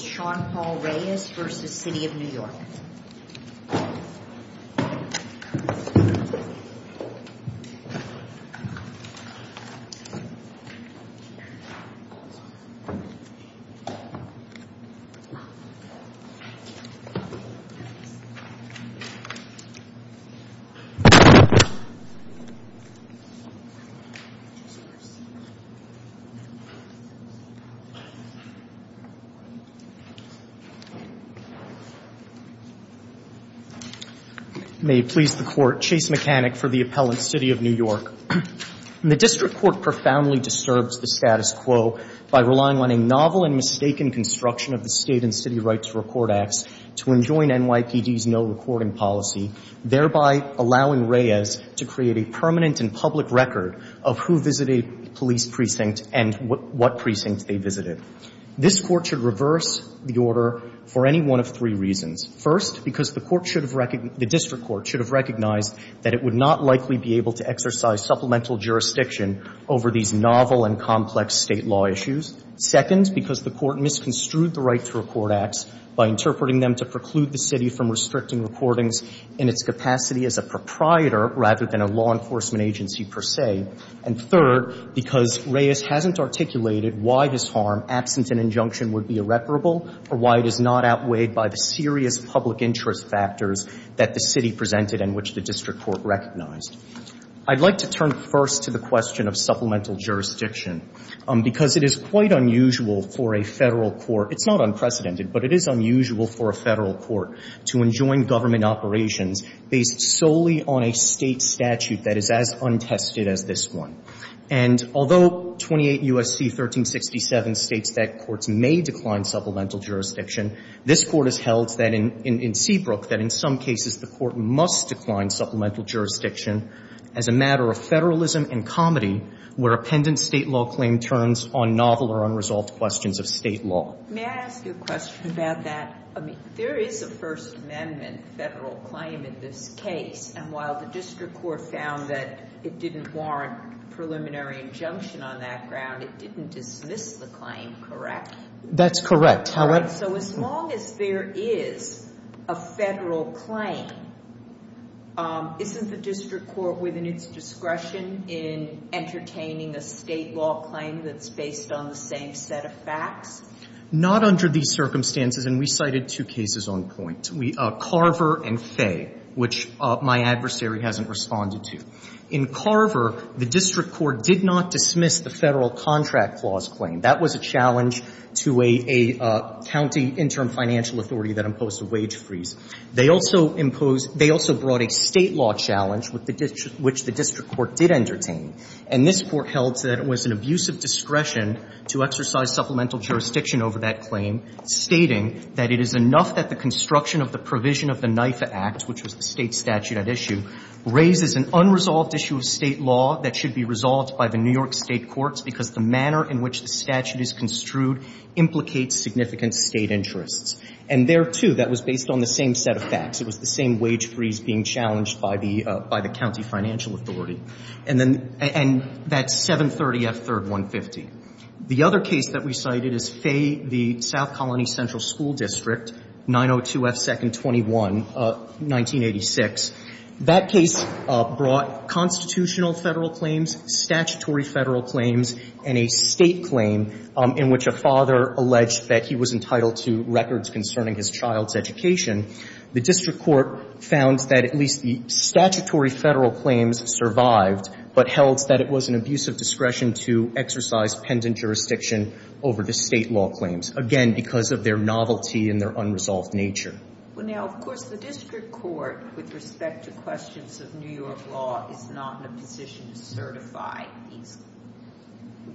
Sean Paul Reyes v. City of New York May it please the Court, Chase Mechanic for the appellant, City of New York. The district court profoundly disturbs the status quo by relying on a novel and mistaken construction of the State and City Rights Report Acts to enjoin NYPD's no-recording policy, thereby allowing Reyes to create a permanent and public record of who visited a police precinct and what precinct they visited. This Court should reverse the order for any one of three reasons. First, because the court should have recognized, the district court should have recognized that it would not likely be able to exercise supplemental jurisdiction over these novel and complex State law issues. Second, because the court misconstrued the Rights Report Acts by interpreting them to preclude the City from restricting recordings in its capacity as a proprietor rather than a law enforcement agency per se. And third, because Reyes hasn't articulated why this harm, absent an injunction, would be irreparable or why it is not outweighed by the serious public interest factors that the City presented and which the district court recognized. I'd like to turn first to the question of supplemental jurisdiction, because it is quite unusual for a Federal court, it's not unprecedented, but it is unusual for a Federal court to enjoin government operations based solely on a State statute that is as untested as this one. And although 28 U.S.C. 1367 states that courts may decline supplemental jurisdiction, this Court has held that in Seabrook, that in some cases the court must decline supplemental jurisdiction as a matter of Federalism and comedy where a pendent State law claim turns on novel or unresolved questions of State law. May I ask you a question about that? I mean, there is a First Amendment Federal claim in this case, and while the district court found that it didn't warrant preliminary injunction on that ground, it didn't dismiss the claim, correct? That's correct. So as long as there is a Federal claim, isn't the district court within its discretion in entertaining a State law claim that's based on the same set of facts? Not under these circumstances, and we cited two cases on point, Carver and Fay, which my adversary hasn't responded to. In Carver, the district court did not dismiss the Federal contract clause claim. That was a challenge to a county interim financial authority that imposed a wage freeze. They also imposed – they also brought a State law challenge, which the district court did entertain, and this Court held that it was an abuse of discretion to exercise supplemental jurisdiction over that claim, stating that it is enough that the construction of the provision of the NIFA Act, which was the State statute at issue, raises an unresolved issue of State law that should be resolved by the New York State courts because the manner in which the statute is construed implicates significant State interests. And there, too, that was based on the same set of facts. It was the same wage freeze being challenged by the – by the county financial authority. And then – and that's 730F3rd150. The other case that we cited is Fay v. South Colony Central School District, 902F221, 1986. That case brought constitutional Federal claims, statutory Federal claims, and a State claim in which a father alleged that he was entitled to records concerning his child's education. The district court found that at least the statutory Federal claims survived, but held that it was an abuse of discretion to exercise pendant jurisdiction over the State law claims, again, because of their novelty and their unresolved nature. Well, now, of course, the district court, with respect to questions of New York law, is not in a position to certify these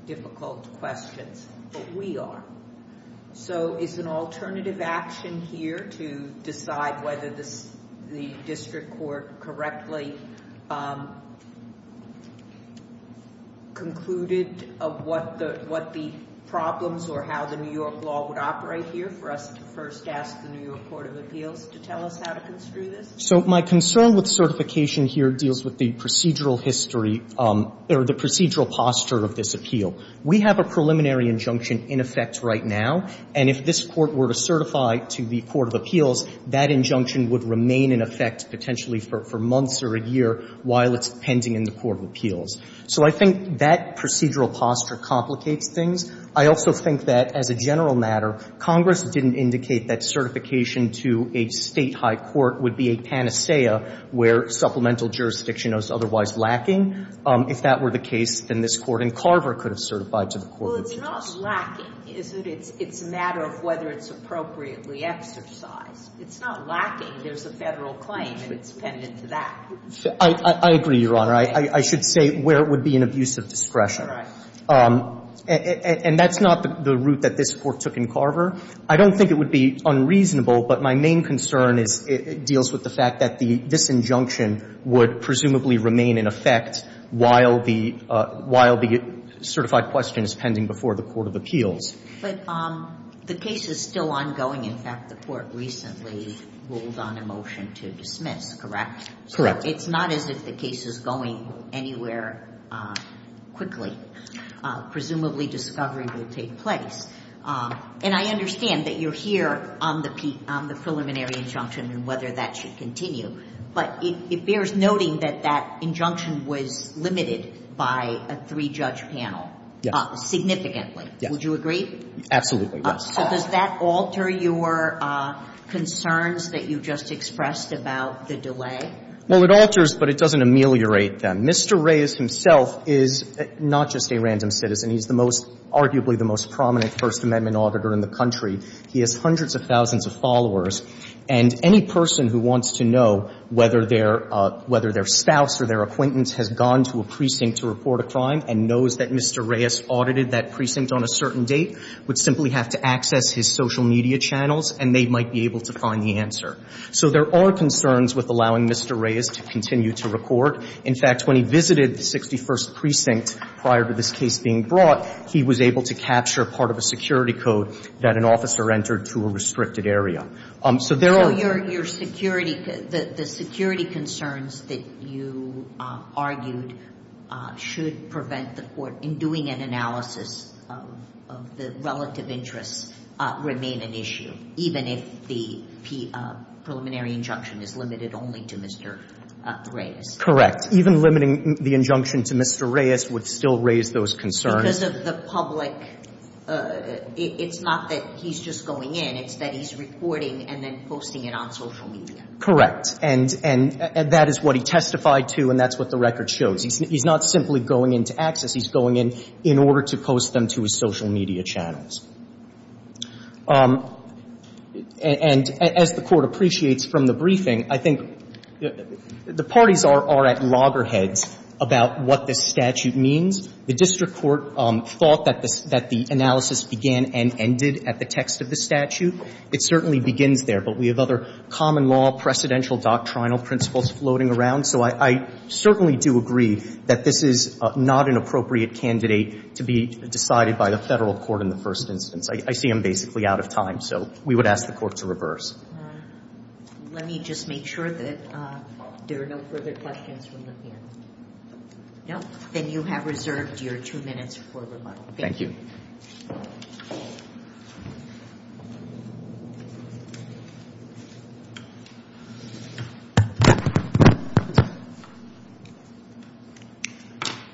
difficult questions, but we are. So is an alternative action here to decide whether the district court correctly concluded what the problems or how the New York law would operate here for us to first ask the New York Court of Appeals to tell us how to construe this? So my concern with certification here deals with the procedural history – or the procedural posture of this appeal. We have a preliminary injunction in effect right now, and if this court were to certify to the Court of Appeals, that injunction would remain in effect potentially for months or a year while it's pending in the Court of Appeals. So I think that procedural posture complicates things. I also think that, as a general matter, Congress didn't indicate that certification to a State high court would be a panacea where supplemental jurisdiction was otherwise lacking. If that were the case, then this Court in Carver could have certified to the Court Well, it's not lacking, is it? It's a matter of whether it's appropriately exercised. It's not lacking. There's a Federal claim, and it's pending to that. I agree, Your Honor. I should say where it would be an abuse of discretion. All right. And that's not the route that this Court took in Carver. I don't think it would be unreasonable, but my main concern deals with the fact that this injunction would presumably remain in effect while the certified question is pending before the Court of Appeals. But the case is still ongoing. In fact, the Court recently ruled on a motion to dismiss, correct? Correct. So it's not as if the case is going anywhere quickly. Presumably, discovery will take place. And I understand that you're here on the preliminary injunction and whether that should continue, but it bears noting that that injunction was limited by a three-judge panel. Significantly. Yes. Would you agree? Absolutely, yes. So does that alter your concerns that you just expressed about the delay? Well, it alters, but it doesn't ameliorate them. Mr. Reyes himself is not just a random citizen. He's the most, arguably the most prominent First Amendment auditor in the country. He has hundreds of thousands of followers. And any person who wants to know whether their spouse or their acquaintance has gone to a precinct to report a crime and knows that Mr. Reyes audited that precinct on a certain date would simply have to access his social media channels, and they might be able to find the answer. So there are concerns with allowing Mr. Reyes to continue to report. In fact, when he visited the 61st Precinct prior to this case being brought, he was able to capture part of a security code that an officer entered to a restricted area. So there are... So your security, the security concerns that you argued should prevent the Court in doing an analysis of the relative interests remain an issue, even if the preliminary injunction is limited only to Mr. Reyes? Correct. Even limiting the injunction to Mr. Reyes would still raise those concerns. Because of the public, it's not that he's just going in. It's that he's reporting and then posting it on social media. Correct. And that is what he testified to, and that's what the record shows. He's not simply going in to access. He's going in in order to post them to his social media channels. And as the Court appreciates from the briefing, I think the parties are at loggerheads about what this statute means. The district court thought that the analysis began and ended at the text of the statute. It certainly begins there. But we have other common law, precedential doctrinal principles floating around. So I certainly do agree that this is not an appropriate candidate to be decided by the Federal court in the first instance. I see him basically out of time. So we would ask the Court to reverse. Let me just make sure that there are no further questions from the panel. No? Then you have reserved your two minutes for rebuttal. Thank you.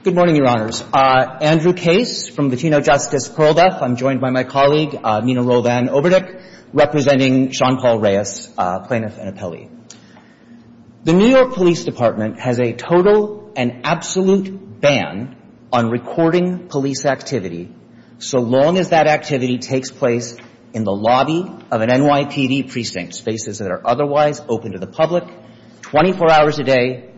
Good morning, Your Honors. Andrew Case from Latino Justice, Perl Def. I'm joined by my colleague Nina Rovan-Oberdyk representing Sean Paul Reyes, plaintiff and appellee. The New York Police Department has a total and absolute ban on recording police activity so long as that activity takes place in the lobby of an NYPD precinct, spaces that are otherwise open to the public, 24 hours a day,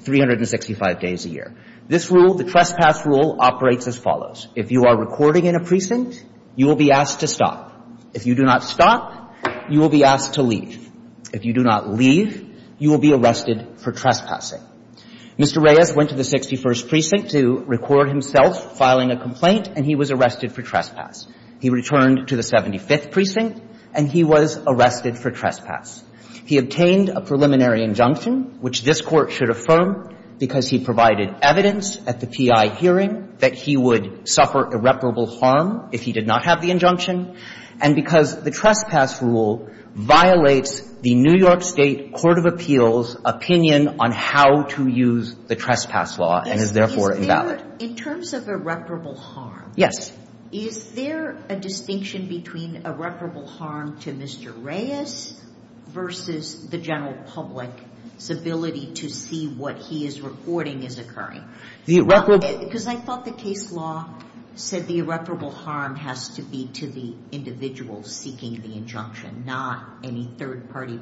365 days a year. This rule, the trespass rule, operates as follows. If you are recording in a precinct, you will be asked to stop. If you do not stop, you will be asked to leave. If you do not leave, you will be arrested for trespassing. Mr. Reyes went to the 61st Precinct to record himself filing a complaint, and he was arrested for trespass. He returned to the 75th Precinct, and he was arrested for trespass. He obtained a preliminary injunction, which this Court should affirm, because he provided evidence at the P.I. hearing that he would suffer irreparable harm if he did not have the injunction, and because the trespass rule violates the New York State Court of Appeals' opinion on how to use the trespass law and is, therefore, invalid. In terms of irreparable harm. Yes. Is there a distinction between irreparable harm to Mr. Reyes versus the general public's ability to see what he is recording is occurring? The irreparable. Because I thought the case law said the irreparable harm has to be to the individual seeking the injunction, not any third-party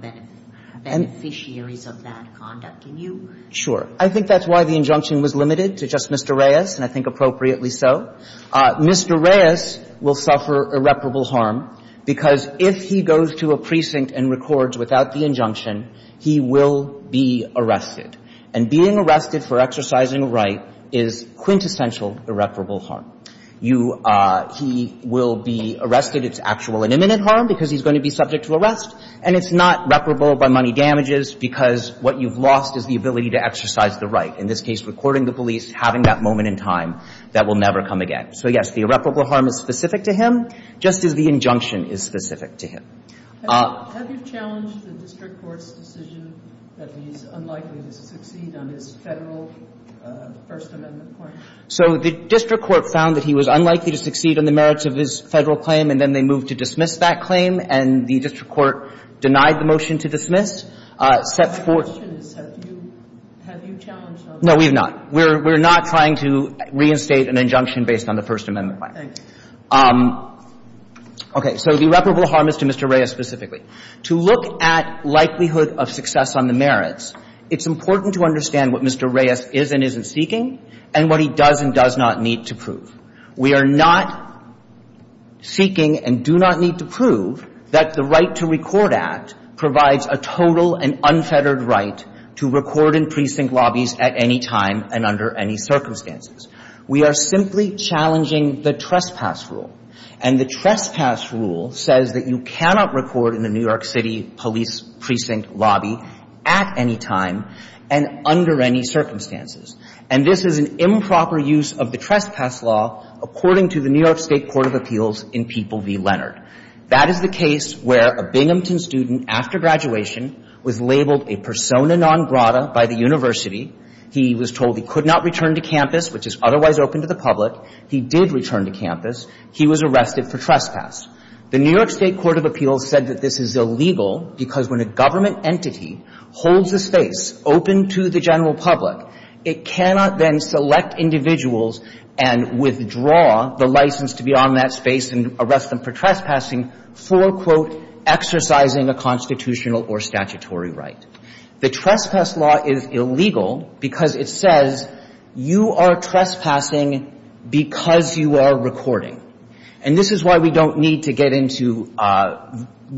beneficiaries of that conduct. Can you? Sure. I think that's why the injunction was limited to just Mr. Reyes, and I think appropriately so. Mr. Reyes will suffer irreparable harm because if he goes to a precinct and records without the injunction, he will be arrested. And being arrested for exercising a right is quintessential irreparable harm. You – he will be arrested, it's actual and imminent harm because he's going to be subject to arrest, and it's not reparable by money damages because what you've lost is the ability to exercise the right. In this case, recording the police, having that moment in time that will be irreparable harm is specific to him, just as the injunction is specific to him. Have you challenged the district court's decision that he's unlikely to succeed on his Federal First Amendment claim? So the district court found that he was unlikely to succeed on the merits of his Federal claim, and then they moved to dismiss that claim, and the district court denied the motion to dismiss. My question is, have you challenged that? No, we have not. We're not trying to reinstate an injunction based on the First Amendment claim. Okay. So the irreparable harm is to Mr. Reyes specifically. To look at likelihood of success on the merits, it's important to understand what Mr. Reyes is and isn't seeking and what he does and does not need to prove. We are not seeking and do not need to prove that the Right to Record Act provides a total and unfettered right to record in precinct lobbies at any time and under any circumstances. We are simply challenging the trespass rule. And the trespass rule says that you cannot record in the New York City police precinct lobby at any time and under any circumstances. And this is an improper use of the trespass law, according to the New York State Court of Appeals in People v. Leonard. That is the case where a Binghamton student after graduation was labeled a persona non grata by the university. He was told he could not return to campus, which is otherwise open to the public. He did return to campus. He was arrested for trespass. The New York State Court of Appeals said that this is illegal because when a government entity holds a space open to the general public, it cannot then select individuals and withdraw the license to be on that space and arrest them for trespassing for, quote, exercising a constitutional or statutory right. The trespass law is illegal because it says you are trespassing because you are recording. And this is why we don't need to get into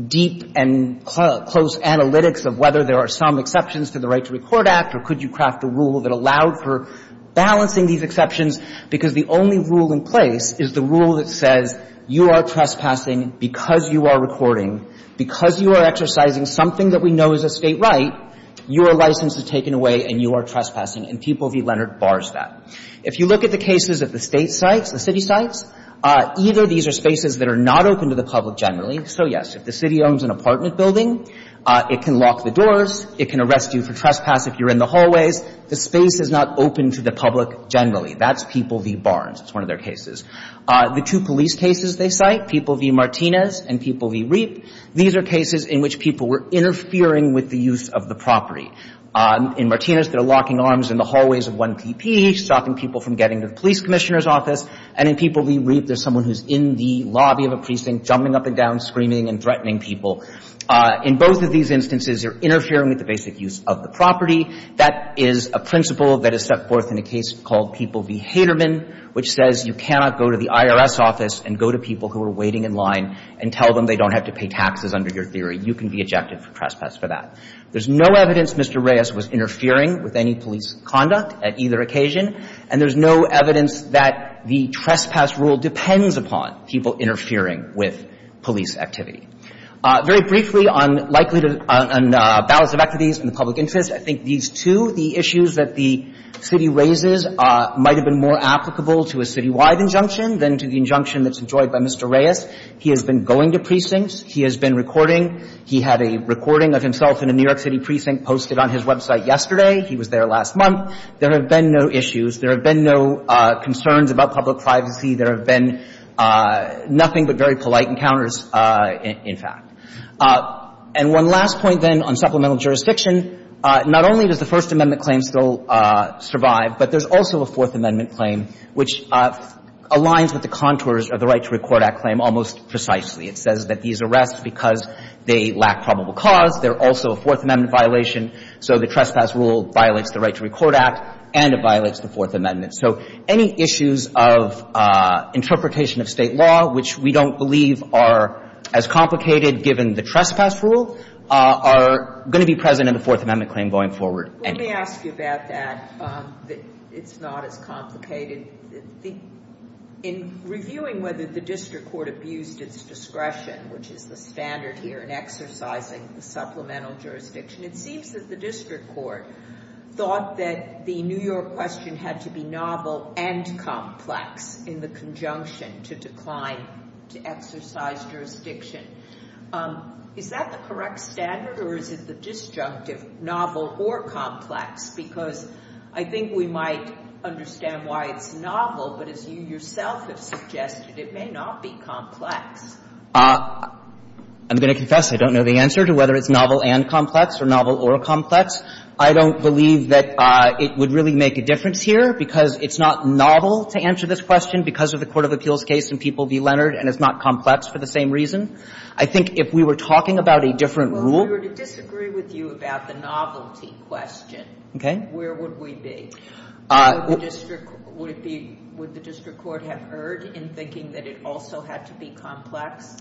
deep and close analytics of whether there are some exceptions to the Right to Record Act or could you craft a rule that allowed for balancing these exceptions, because the only rule in place is the rule that says you are trespassing because you are recording, because you are exercising something that we know is a State right, your license is taken away, and you are trespassing, and People v. Leonard bars that. If you look at the cases of the State sites, the city sites, either these are spaces that are not open to the public generally. So, yes, if the city owns an apartment building, it can lock the doors, it can arrest you for trespass if you're in the hallways. The space is not open to the public generally. That's People v. Barnes. It's one of their cases. The two police cases they cite, People v. Martinez and People v. Reap, these are cases in which people were interfering with the use of the property. In Martinez, they're locking arms in the hallways of 1PP, stopping people from getting to the police commissioner's office. In Reap, they're locking arms in the lobby of a precinct, jumping up and down, screaming and threatening people. In both of these instances, they're interfering with the basic use of the property. That is a principle that is set forth in a case called People v. Haterman, which says you cannot go to the IRS office and go to people who are waiting in line and tell them they don't have to pay taxes under your theory. You can be ejected for trespass for that. There's no evidence Mr. Reyes was interfering with any police conduct at either occasion, and there's no evidence that the trespass rule depends upon people interfering with police activity. Very briefly, on likelihood on balance of equities and the public interest, I think these two, the issues that the city raises, might have been more applicable to a citywide injunction than to the injunction that's enjoyed by Mr. Reyes. He has been going to precincts. He has been recording. He had a recording of himself in a New York City precinct posted on his website yesterday. He was there last month. There have been no issues. There have been no concerns about public privacy. There have been nothing but very polite encounters, in fact. And one last point, then, on supplemental jurisdiction, not only does the First Amendment claim still survive, but there's also a Fourth Amendment claim which aligns with the contours of the Right to Record Act claim almost precisely. It says that these arrests, because they lack probable cause, they're also a Fourth Amendment violation. So the trespass rule violates the Right to Record Act, and it violates the Fourth Amendment. So any issues of interpretation of State law, which we don't believe are as complicated given the trespass rule, are going to be present in the Fourth Amendment claim going forward anyway. I want to ask you about that, that it's not as complicated. In reviewing whether the district court abused its discretion, which is the standard here in exercising the supplemental jurisdiction, it seems that the district court thought that the New York question had to be novel and complex in the conjunction to decline to exercise jurisdiction. Is that the correct standard, or is it the disjunctive novel or complex? Because I think we might understand why it's novel, but as you yourself have suggested, it may not be complex. I'm going to confess I don't know the answer to whether it's novel and complex or novel or complex. I don't believe that it would really make a difference here, because it's not novel to answer this question because of the court of appeals case in Peeble v. Leonard and it's not complex for the same reason. I think if we were talking about a different rule. Well, if we were to disagree with you about the novelty question, where would we be? Would the district court have erred in thinking that it also had to be complex?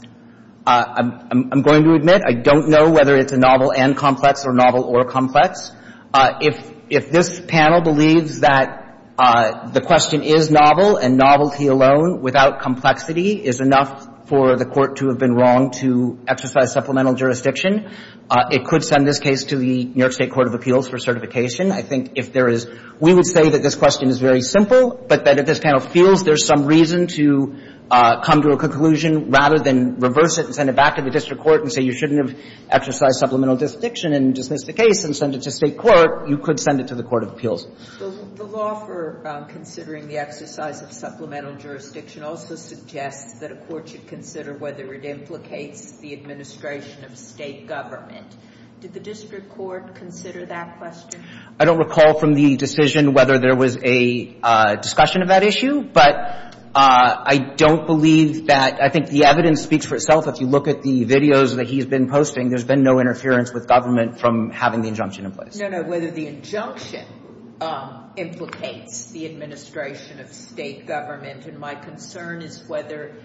I'm going to admit I don't know whether it's novel and complex or novel or complex. If this panel believes that the question is novel and novelty alone without complexity is enough for the court to have been wrong to exercise supplemental jurisdiction, it could send this case to the New York State Court of Appeals for certification. I think if there is we would say that this question is very simple, but that if this panel feels there's some reason to come to a conclusion rather than reverse it and send it back to the district court and say you shouldn't have exercised supplemental jurisdiction and dismiss the case and send it to State court, you could send it to the court of appeals. The law for considering the exercise of supplemental jurisdiction also suggests that a court should consider whether it implicates the administration of State government. Did the district court consider that question? I don't recall from the decision whether there was a discussion of that issue, but I don't believe that — I think the evidence speaks for itself. If you look at the videos that he's been posting, there's been no interference with government from having the injunction in place. No, no, whether the injunction implicates the administration of State government and my concern is whether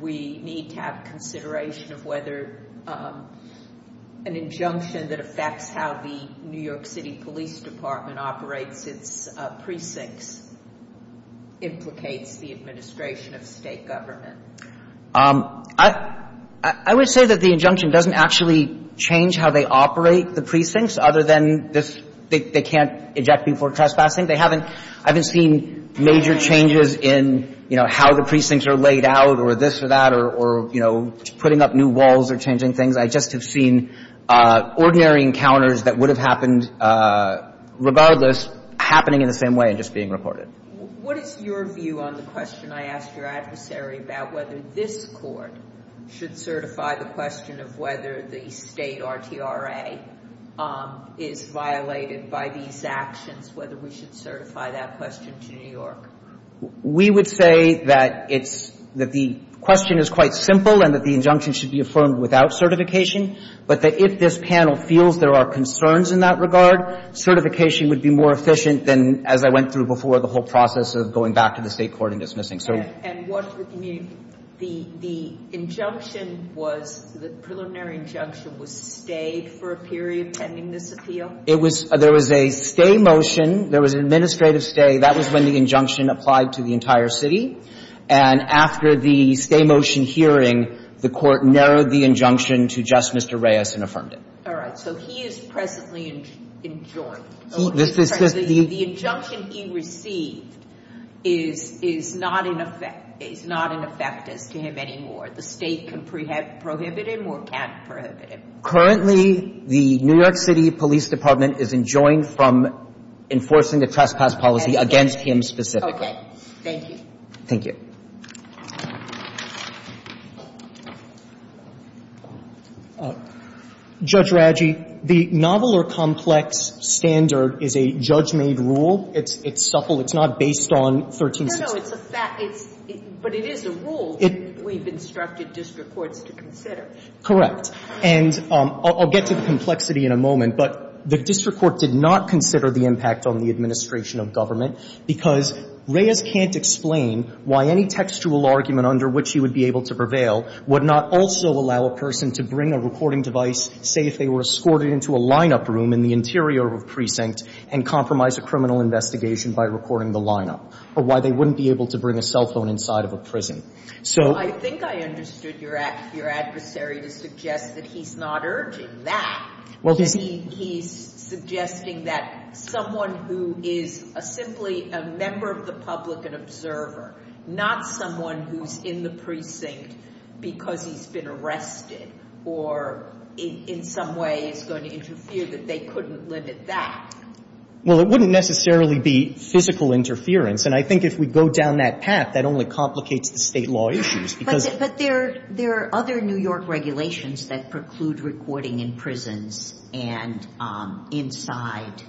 we need to have consideration of whether an injunction that affects how the New York City Police Department operates its precincts implicates the administration of State government. I would say that the injunction doesn't actually change how they operate the precincts other than this — they can't eject before trespassing. They haven't — I haven't seen major changes in, you know, how the precincts are laid out or this or that or, you know, putting up new walls or changing things. I just have seen ordinary encounters that would have happened regardless happening in the same way and just being reported. What is your view on the question I asked your adversary about whether this court should certify the question of whether the State RTRA is violated by these actions, whether we should certify that question to New York? We would say that it's — that the question is quite simple and that the injunction should be affirmed without certification, but that if this panel feels there are concerns in that regard, certification would be more efficient than, as I went through before, the whole process of going back to the State court and dismissing cert. And what would you mean — the injunction was — the preliminary injunction was stayed for a period pending this appeal? It was — there was a stay motion. There was an administrative stay. That was when the injunction applied to the entire city. And after the stay motion hearing, the Court narrowed the injunction to just Mr. Reyes and affirmed it. All right. So he is presently enjoined. The injunction he received is not in effect — is not in effect as to him anymore. The State can prohibit him or can't prohibit him. Currently, the New York City Police Department is enjoined from enforcing a trespass policy against him specifically. Okay. Thank you. Thank you. Judge Raggi, the novel or complex standard is a judge-made rule. It's — it's supple. It's not based on 1366. No, no. It's a fact. It's — but it is a rule that we've instructed district courts to consider. Correct. And I'll get to the complexity in a moment, but the district court did not consider the impact on the administration of government because Reyes can't explain why any textual argument under which he would be able to prevail would not also allow a person to bring a recording device, say, if they were escorted into a lineup room in the interior of a precinct and compromise a criminal investigation by recording the lineup, or why they wouldn't be able to bring a cell phone inside of a prison. So — He's suggesting that someone who is simply a member of the public, an observer, not someone who's in the precinct because he's been arrested or in some way is going to interfere, that they couldn't limit that. Well, it wouldn't necessarily be physical interference. And I think if we go down that path, that only complicates the state law issues because —— if you include recording in prisons and inside,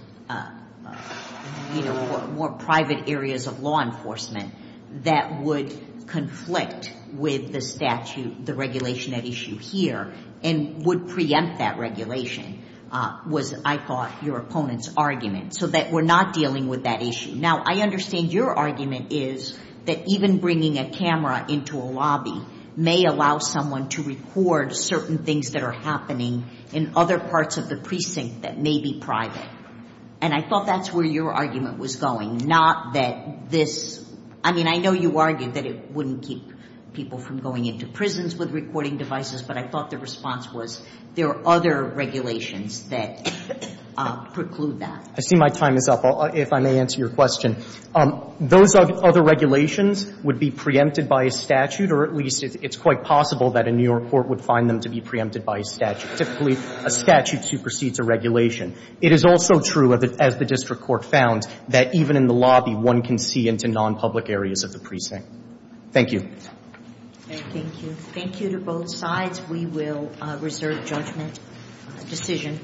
you know, more private areas of law enforcement, that would conflict with the statute, the regulation at issue here, and would preempt that regulation, was, I thought, your opponent's argument, so that we're not dealing with that issue. Now, I understand your argument is that even bringing a camera into a lobby may allow someone to record certain things that are happening in other parts of the precinct that may be private. And I thought that's where your argument was going, not that this — I mean, I know you argued that it wouldn't keep people from going into prisons with recording devices, but I thought the response was there are other regulations that preclude that. I see my time is up, if I may answer your question. Those other regulations would be preempted by a statute, or at least it's quite possible that a New York court would find them to be preempted by a statute. Typically, a statute supersedes a regulation. It is also true, as the district court found, that even in the lobby, one can see into nonpublic areas of the precinct. Thank you. Thank you. Thank you to both sides. We will reserve judgment decision.